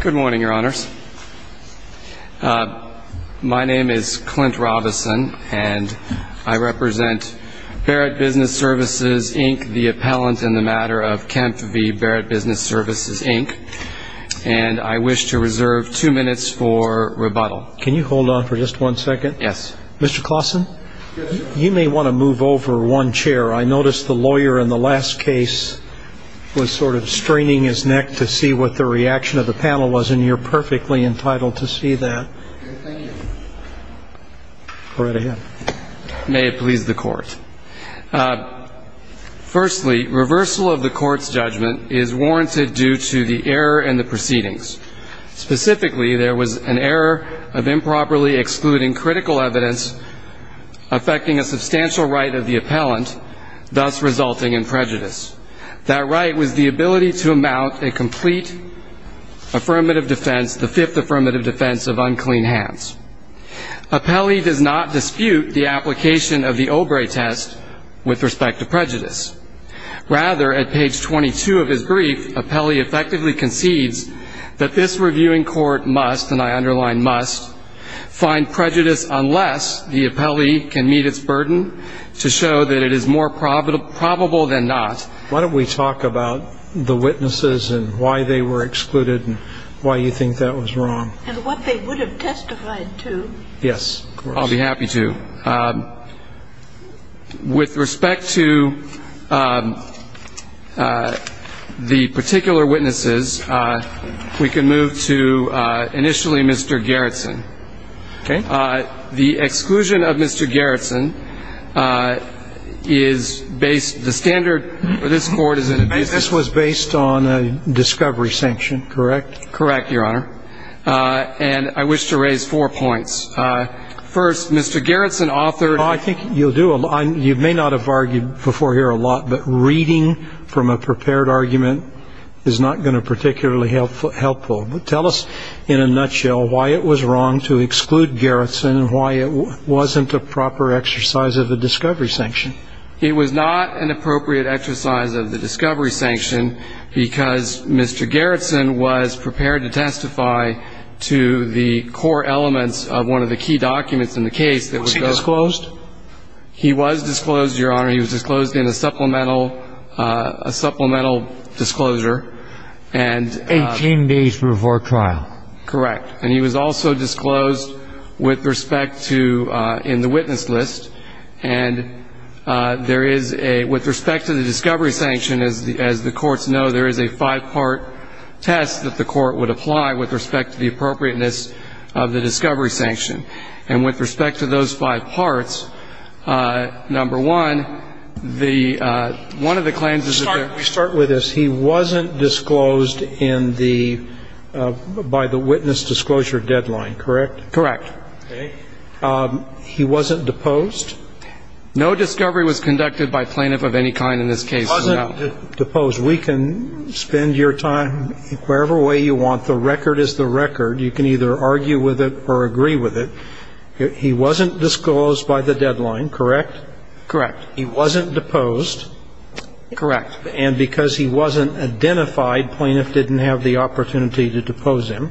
Good morning, your honors. My name is Clint Robison and I represent Barrett Business Services, Inc., the appellant in the matter of Kempf v. Barrett Business Services, Inc., and I wish to reserve two minutes for rebuttal. Can you hold on for just one second? Yes. Mr. Clausen, you may want to move over one chair. I noticed the lawyer in the last case was sort of straining his neck to see what the reaction of the panel was, and you're perfectly entitled to see that. Thank you. Barrett, ahead. May it please the Court. Firstly, reversal of the Court's judgment is warranted due to the error in the proceedings. Specifically, there was an error of improperly excluding critical evidence affecting a substantial right of the appellant, thus resulting in prejudice. That right was the ability to amount a complete affirmative defense, the Fifth Affirmative Defense, of unclean hands. Appellee does not dispute the application of the Obrey test with respect to prejudice. Rather, at page 22 of his brief, appellee effectively concedes that this reviewing court must, and I underline must, find prejudice unless the appellee can meet its burden to show that it is more probable than not. Why don't we talk about the witnesses and why they were excluded and why you think that was wrong. And what they would have testified to. Yes, of course. I'll be happy to. With respect to the particular witnesses, we can move to initially Mr. Gerritsen. Okay. The exclusion of Mr. Gerritsen is based on a discovery sanction, correct? Correct, Your Honor. And I wish to raise four points. First, Mr. Gerritsen authored. I think you'll do a lot. You may not have argued before here a lot, but reading from a prepared argument is not going to be particularly helpful. Tell us in a nutshell why it was wrong to exclude Gerritsen and why it wasn't a proper exercise of the discovery sanction. It was not an appropriate exercise of the discovery sanction because Mr. Gerritsen was prepared to testify to the core elements of one of the key documents in the case. Was he disclosed? He was disclosed, Your Honor. He was disclosed in a supplemental, a supplemental disclosure. And 18 days before trial. Correct. And he was also disclosed with respect to, in the case of the discovery sanction, there is a, with respect to the discovery sanction, as the courts know, there is a five-part test that the court would apply with respect to the appropriateness of the discovery sanction. And with respect to those five parts, number one, the, one of the claims is that they're We'll start with this. He wasn't disclosed in the, by the witness disclosure deadline, correct? Correct. Okay. He wasn't deposed? No discovery was conducted by plaintiff of any kind in this case. He wasn't deposed. We can spend your time wherever way you want. The record is the record. You can either argue with it or agree with it. He wasn't disclosed by the deadline, correct? Correct. He wasn't deposed? Correct. And because he wasn't identified, plaintiff didn't have the One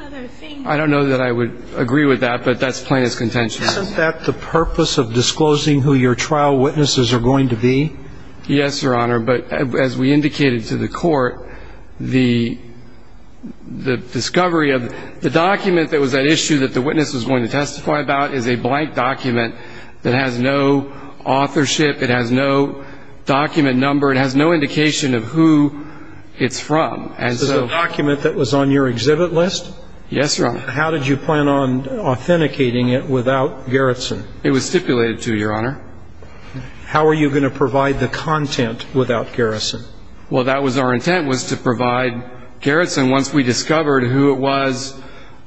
other thing. I don't know that I would agree with that, but that's plaintiff's contention. Isn't that the purpose of disclosing who your trial witnesses are going to be? Yes, Your Honor, but as we indicated to the court, the, the discovery of, the document that was at issue that the witness was going to testify about is a blank document that has no authorship, it has no document number, it has no indication of who it's from. And so the document that was on your exhibit list? Yes, Your Honor. How did you plan on authenticating it without Gerritsen? It was stipulated to, Your Honor. How are you going to provide the content without Gerritsen? Well, that was our intent, was to provide Gerritsen once we discovered who it was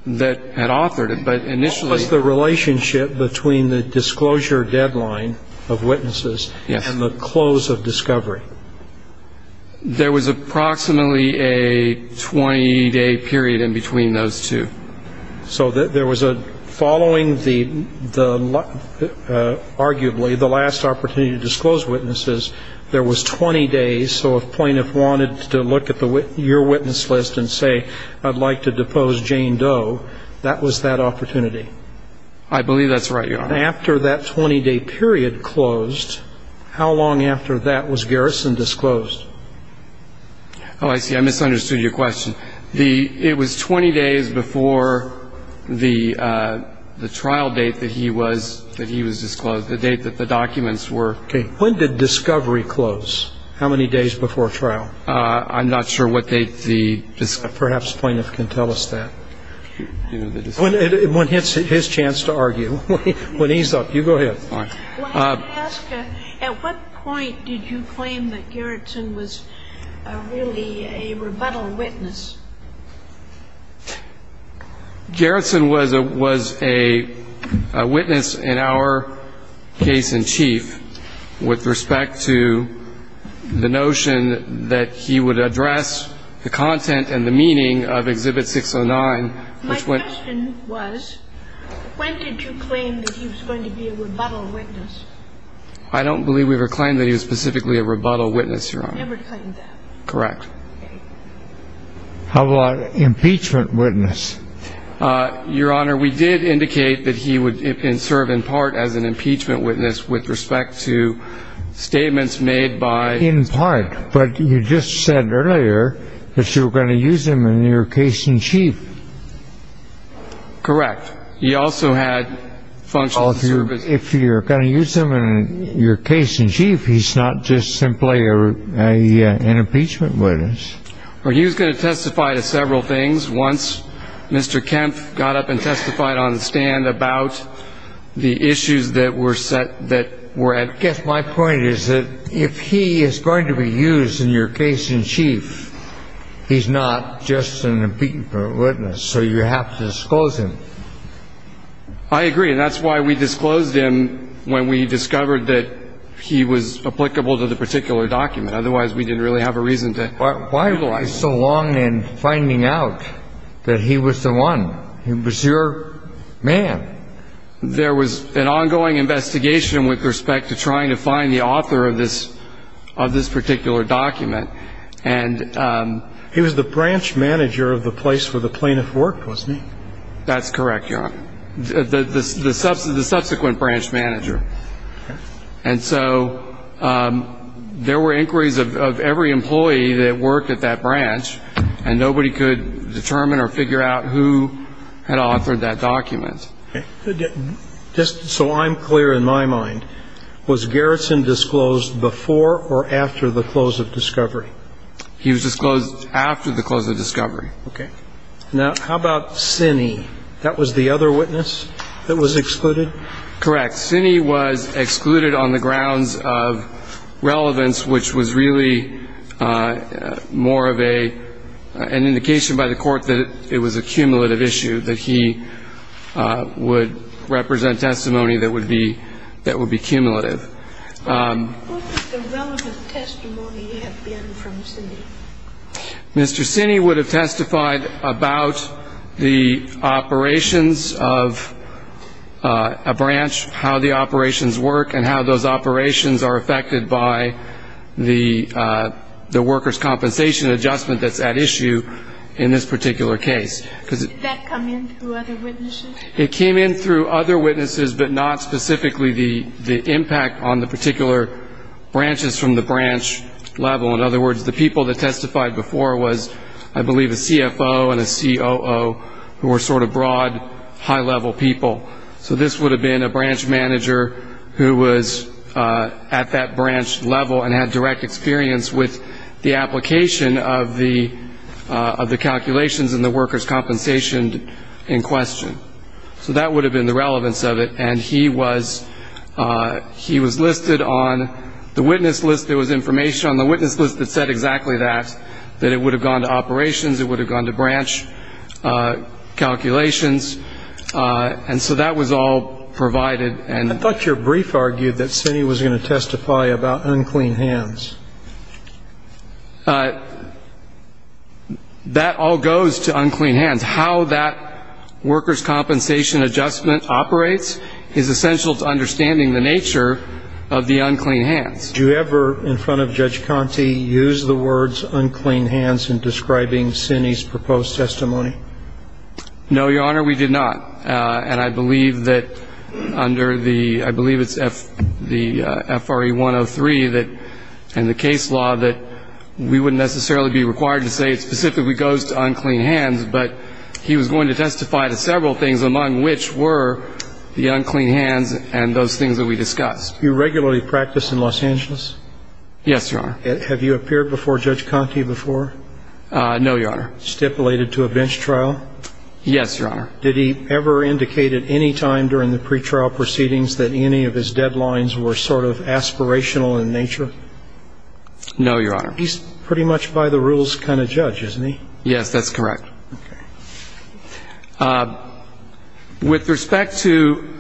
that had authored it, but initially. What was the relationship between the disclosure deadline of witnesses and the close of discovery? There was approximately a 20-day period in between those two. So there was a, following the, the, arguably the last opportunity to disclose witnesses, there was 20 days, so if plaintiff wanted to look at the, your witness list and say, I'd like to depose Jane Doe, that was that opportunity? I believe that's right, Your Honor. After that 20-day period closed, how long after that was Gerritsen disclosed? Oh, I see. I misunderstood your question. The, it was 20 days before the, the trial date that he was, that he was disclosed, the date that the documents were. Okay. When did discovery close? How many days before trial? I'm not sure what date the, perhaps plaintiff can tell us that. When, when his, his chance to argue. When he's up. You go ahead. When I ask, at what point did you claim that Gerritsen was really a rebuttal witness? Gerritsen was a, was a witness in our case in chief with respect to the notion that he would address the content and the meaning of Exhibit 609. My question was, when did you claim that he was going to be a rebuttal witness? I don't believe we ever claimed that he was specifically a rebuttal witness, Your Honor. We never claimed that. Correct. How about impeachment witness? Your Honor, we did indicate that he would serve in part as an impeachment witness with respect to statements made by. In part, but you just said earlier that you were going to use him in your case in chief. Correct. He also had functions. If you're going to use him in your case in chief, he's not just simply a, a, an impeachment witness. Well, he was going to testify to several things once Mr. Kempf got up and testified on the stand about the issues that were set, that were at. I guess my point is that if he is going to be used in your case in chief, he's not just an impeachment witness. So you have to disclose him. I agree. And that's why we discovered that he was applicable to the particular document. Otherwise, we didn't really have a reason to. Why, why was he so long in finding out that he was the one? He was your man. There was an ongoing investigation with respect to trying to find the author of this, of this particular document. And, um. He was the branch manager of the place where the plaintiff worked, wasn't he? That's branch manager. And so, um, there were inquiries of, of every employee that worked at that branch and nobody could determine or figure out who had authored that document. Okay. Just so I'm clear in my mind, was Garrison disclosed before or after the close of discovery? He was disclosed after the close of discovery. Okay. Now, how about Cinny? That was the other witness that was excluded? Correct. Cinny was excluded on the grounds of relevance, which was really, uh, more of a, an indication by the court that it was a cumulative issue, that he, uh, would represent testimony that would be, that would be cumulative. Um. What would the relevant testimony have been from Cinny? Mr. Cinny would have testified about the operations of, uh, a branch, how the operations work and how those operations are affected by the, uh, the worker's compensation adjustment that's at issue in this particular case. Did that come in through other witnesses? It came in through other witnesses, but not specifically the, the impact on the particular branches from the branch level. In other words, the people that testified before was, I believe, a CFO and a COO who were sort of broad, high-level people. So this would have been a branch manager who was, uh, at that branch level and had direct experience with the application of the, uh, of the calculations and the worker's compensation in question. So that would have been the relevance of it. And he was, uh, he was listed on the witness list. There was information on the witness list that said exactly that, that it would have gone to operations, it would have gone to branch, uh, calculations. Uh, and so that was all provided. And I thought your brief argued that Cinny was going to testify about unclean hands. Uh, that all goes to unclean hands. How that worker's compensation is essential to understanding the nature of the unclean hands. Did you ever, in front of Judge Conte, use the words unclean hands in describing Cinny's proposed testimony? No, your Honor, we did not. Uh, and I believe that under the, I believe it's F, the, uh, FRE 103 that, and the case law that we wouldn't necessarily be required to say it specifically goes to unclean hands, but he was going to unclean hands and those things that we discussed. Do you regularly practice in Los Angeles? Yes, your Honor. Have you appeared before Judge Conte before? Uh, no, your Honor. Stipulated to a bench trial? Yes, your Honor. Did he ever indicate at any time during the pretrial proceedings that any of his deadlines were sort of aspirational in nature? No, your Honor. He's pretty much by the rules kind of judge, isn't he? Yes, that's correct. Okay. With respect to,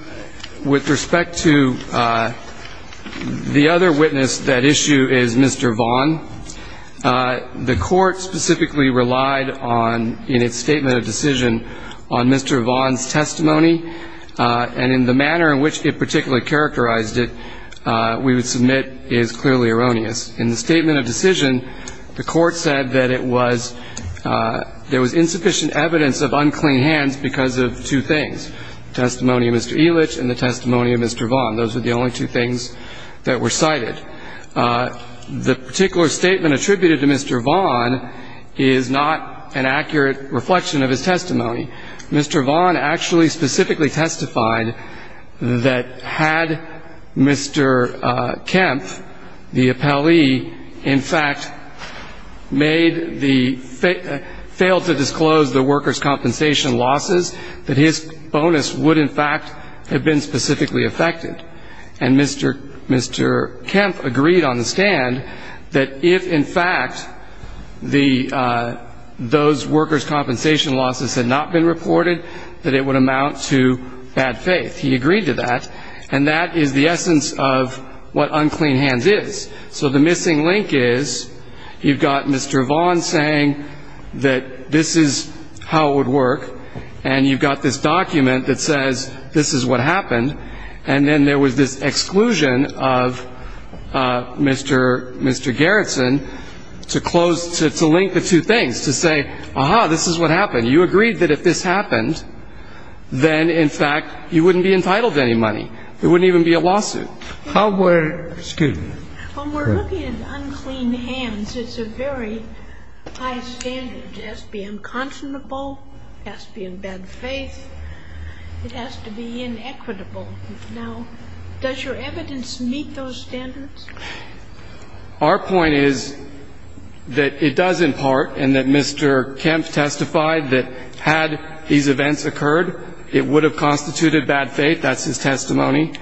with respect to, uh, the other witness that issue is Mr. Vaughn. Uh, the court specifically relied on, in its statement of decision, on Mr. Vaughn's testimony, uh, and in the manner in which it particularly characterized it, uh, we would submit is clearly erroneous. In the statement of decision, the court said that it was, uh, there was insufficient evidence of unclean hands because of two things, testimony of Mr. Elitch and the testimony of Mr. Vaughn. Those are the only two things that were cited. Uh, the particular statement attributed to Mr. Vaughn is not an accurate reflection of his testimony. Mr. Vaughn actually specifically testified that had Mr. uh, Kempf, the appellee, in fact, made the, failed to disclose the workers' compensation losses, that his bonus would, in fact, have been specifically affected. And Mr. Kempf agreed on the stand that if, in fact, the, uh, those workers' compensation losses had not been reported, that it would amount to bad faith. He agreed to that. And that is the essence of what unclean hands is. So the missing link is, you've got Mr. Vaughn saying that this is how it would work, and you've got this document that says this is what happened, and then there was this exclusion of, uh, Mr., Mr. Garretson to close, to, to link the two things, to say, aha, this is what happened. You agreed that if this happened, then, in fact, you wouldn't be entitled to any money. There wouldn't even be a lawsuit. How were, excuse me. When we're looking at unclean hands, it's a very high standard. It has to be unconscionable, it has to be in bad faith, it has to be inequitable. Now, does your evidence meet those standards? Our point is that it does, in part, and that Mr. Kempf testified that had these events occurred, it would have constituted bad faith, that's his testimony.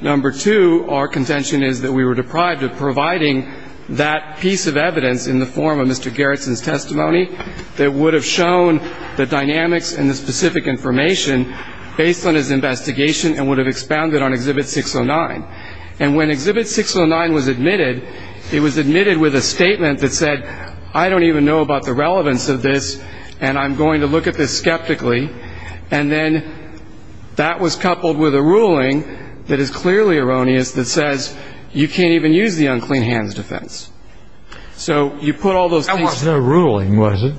Number two, our contention is that we were deprived of providing that piece of evidence in the form of Mr. Garretson's testimony that would have shown the dynamics and the specific information based on his investigation and would have expounded on Exhibit 609. And when Exhibit 609 was admitted, it was admitted with a statement that said, I don't even know about the relevance of this, and I'm going to look at this skeptically. And then, that was coupled with a ruling that is clearly erroneous that says, you can't even use the unclean hands defense. So, you put all those things. That wasn't a ruling, was it?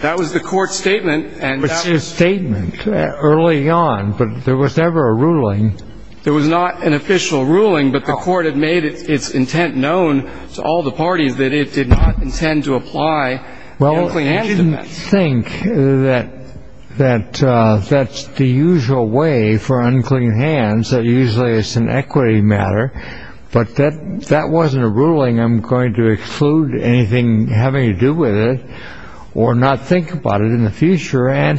That was the court statement, and that was. But it's a statement, early on, but there was never a ruling. There was not an official ruling, but the court had made its intent known to all the parties that it did not intend to apply the unclean hands defense. Well, I didn't think that that's the usual way for unclean hands, that usually it's an equity matter. But that wasn't a ruling. I'm going to exclude anything having to do with it or not think about it in the case. Right.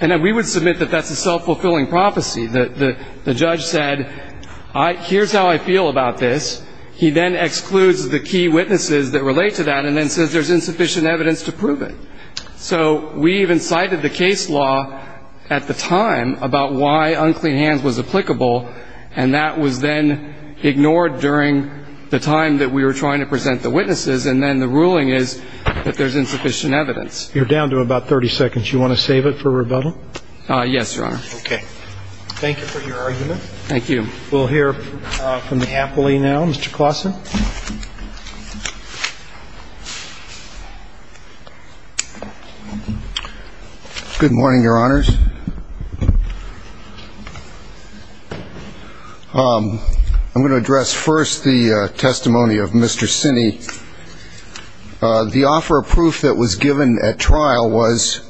And then, we would submit that that's a self-fulfilling prophecy. The judge said, here's how I feel about this. He then excludes the key witnesses that relate to that, and then says there's insufficient evidence to prove it. So, we even cited the case law, at the time, about why unclean hands was applicable, and that was then ignored during the time that we were trying to present the witnesses. And then, the ruling is that there's insufficient evidence. You're down to about 30 seconds. You want to save it for rebuttal? Yes, Your Honor. Okay. Thank you for your argument. Thank you. We'll hear from the appellee now. Mr. Klaassen? Good morning, Your Honors. I'm going to address, first, the testimony of Mr. Sinney. The offer of proof that was given at trial was,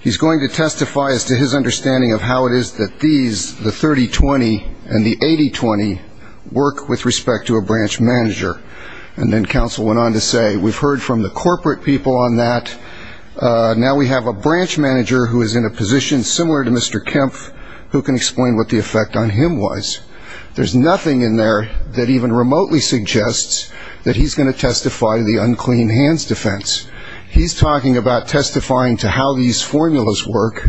he's going to testify as to his understanding of how it is that these, the 30-20 and the 80-20, work with respect to a branch manager. And then, counsel went on to say, we've heard from the corporate people on that. Now we have a branch manager who is in a position similar to Mr. Kempf, who can explain what the effect on him was. There's nothing in there that even remotely suggests that he's going to testify to the unclean hands defense. He's talking about testifying to how these formulas work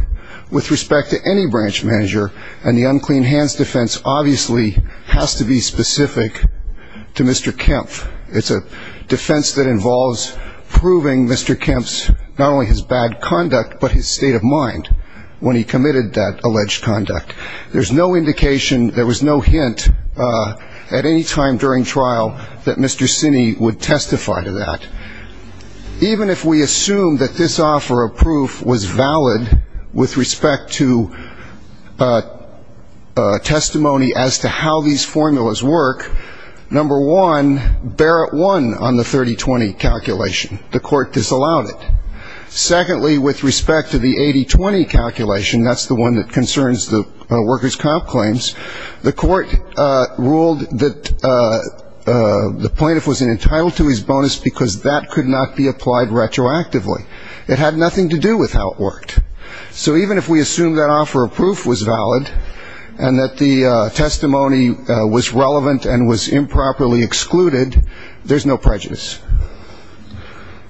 with respect to any branch manager. And the unclean hands defense, obviously, has to be specific to Mr. Kempf. It's a defense that involves proving Mr. Kempf's, not only his bad conduct, but his state of mind when he committed that alleged conduct. There's no indication, there was no hint at any time during trial that Mr. Sinney would testify to that. Even if we assume that this offer of proof was valid with respect to testimony as to how these formulas work, number one, Barrett won on the 30-20 calculation. The court disallowed it. Secondly, with respect to the 80-20 calculation, that's the one that concerns the workers' comp claims, the court ruled that the plaintiff was entitled to his bonus because that could not be applied retroactively. It had nothing to do with how it worked. So even if we assume that offer of proof was valid and that the testimony was relevant and was improperly excluded, there's no prejudice.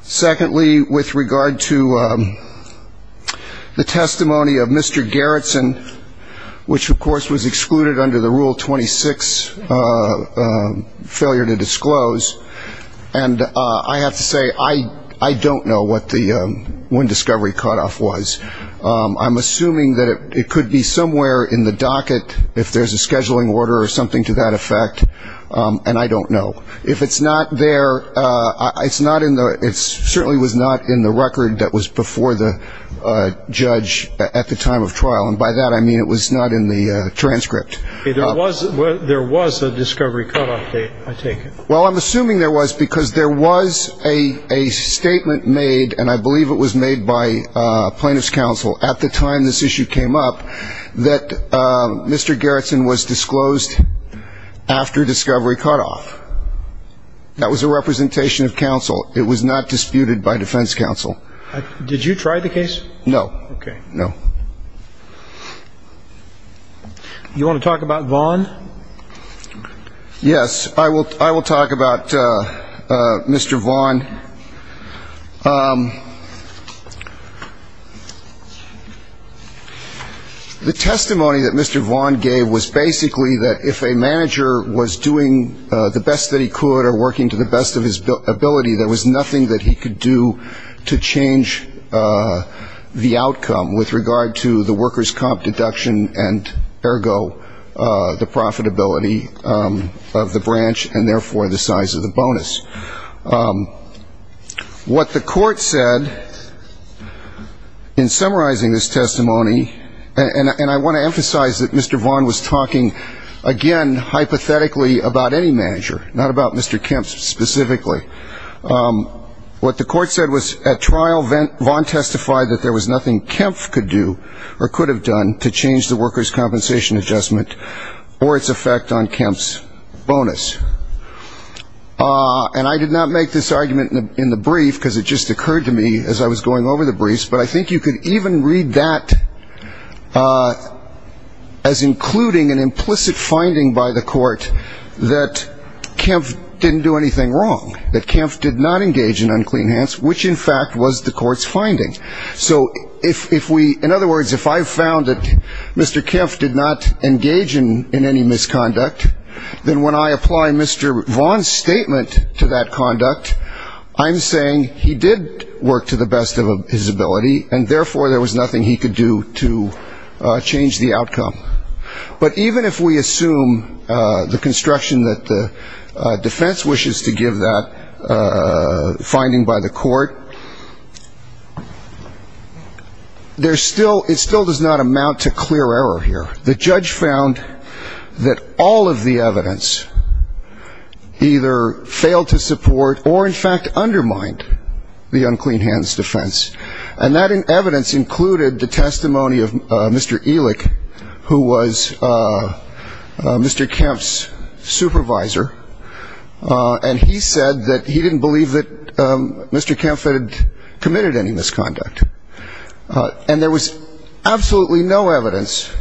Secondly, with regard to the testimony of Mr. Gerritsen, which of course was excluded under the Rule 26 failure to disclose, and I have to say, I don't know what the wind discovery cutoff was. I'm assuming that it could be somewhere in the docket if there's a scheduling order or something to that effect, and I don't know. If it's not there, it certainly was not in the record that was before the judge at the time of trial, and by that I mean it was not in the transcript. There was a discovery cutoff date, I take it. Well, I'm assuming there was because there was a statement made, and I believe it was made by plaintiff's counsel at the time this issue came up, that Mr. Gerritsen was disclosed after discovery cutoff. That was a representation of counsel. It was not disputed by defense counsel. Did you try the case? No. Okay. No. You want to talk about Vaughan? Yes. I will talk about Mr. Vaughan. The testimony that Mr. Vaughan gave was basically that if a manager was doing the best that he could or working to the best of his ability, there was nothing that he could do to change the outcome with regard to the workers' comp deduction and, ergo, the profitability of the branch and therefore the size of the bonus. What the court said in summarizing this testimony, and I want to emphasize that Mr. Vaughan was talking, again, hypothetically about any manager, not about Mr. Kempf specifically. What the court said was at trial Vaughan testified that there was nothing Kempf could do or could have done to change the workers' compensation adjustment or its effect on Kempf's bonus. And I did not make this argument in the brief because it just occurred to me as I was going over the briefs, but I think you could even read that as including an implicit finding by the court that Kempf didn't do anything wrong, that Kempf did not engage in unclean hands, which, in fact, was the court's finding. So if we ‑‑ in other words, if I found that Mr. Kempf did not engage in any misconduct, then when I apply Mr. Vaughan's statement to that conduct, I'm saying he did work to the best of his ability, and therefore there was nothing he could do to change the outcome. But even if we assume the construction that the defense wishes to give that finding by the court, the judge found that all of the evidence either failed to support or, in fact, undermined the unclean hands defense. And that evidence included the testimony of Mr. Elick, who was Mr. Kempf's supervisor, and he said that he had not committed any misconduct. And there was absolutely no evidence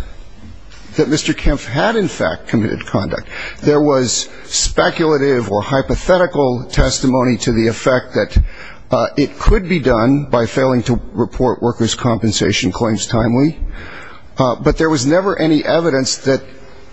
that Mr. Kempf had, in fact, committed conduct. There was speculative or hypothetical testimony to the effect that it could be done by failing to report workers' compensation claims timely, but there was never any evidence that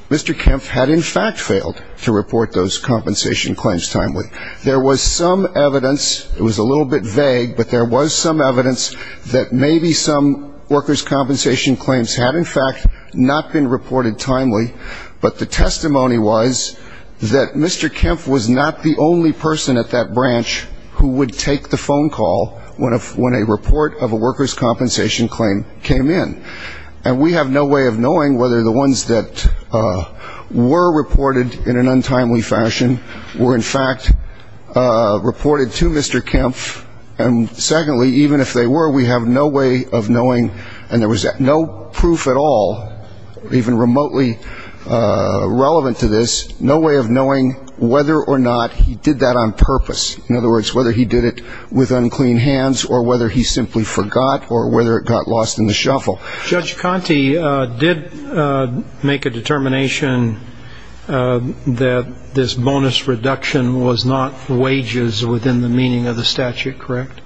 Mr. Kempf had, in fact, failed to report those compensation claims timely. There was some evidence, it was a little bit vague, but there was some evidence that maybe some workers' compensation claims had, in fact, not been reported timely, but the testimony was that Mr. Kempf was not the only person at that branch who would take the phone call when a report of a workers' compensation claim came in. And we have no way of knowing whether the ones that were reported in an untimely fashion were in fact reported to Mr. Kempf, and secondly, even if they were, we have no way of knowing, and there was no proof at all, even remotely relevant to this, no way of knowing whether or not he did that on purpose. In other words, whether he did it with unclean hands or whether he simply forgot or whether it got lost in the shuffle. Judge Conte did make a determination that this bonus reduction was not wages within the meaning of the statute, correct?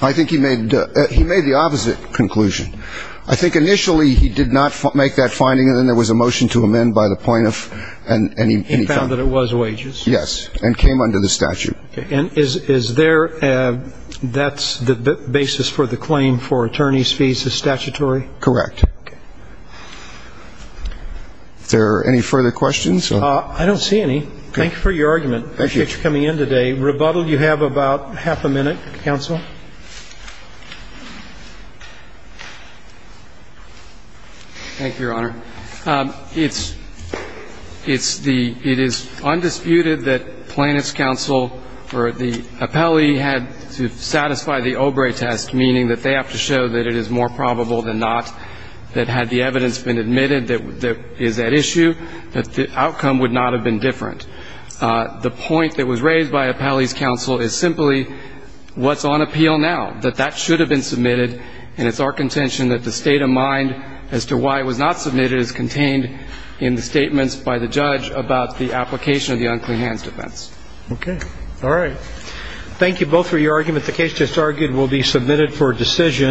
I think he made the opposite conclusion. I think initially he did not make that finding, and then there was a motion to amend by the plaintiff. And he found that it was wages? Yes, and came under the statute. And is there any further questions? I don't see any. Thank you for your argument. I appreciate you coming in today. Rebuttal, you have about half a minute, counsel. Thank you, Your Honor. It's the, it is undisputed that Plaintiff's counsel or the plaintiff's counsel, the plaintiff's counsel, had to satisfy the Obre test, meaning that they have to show that it is more probable than not, that had the evidence been admitted that is at issue, that the outcome would not have been different. The point that was raised by Appellee's counsel is simply what's on appeal now, that that should have been submitted, and it's our contention that the state of mind as to why it was not submitted is contained in the statements by the judge about the case. Thank you for your argument. The case, as argued, will be submitted for decision.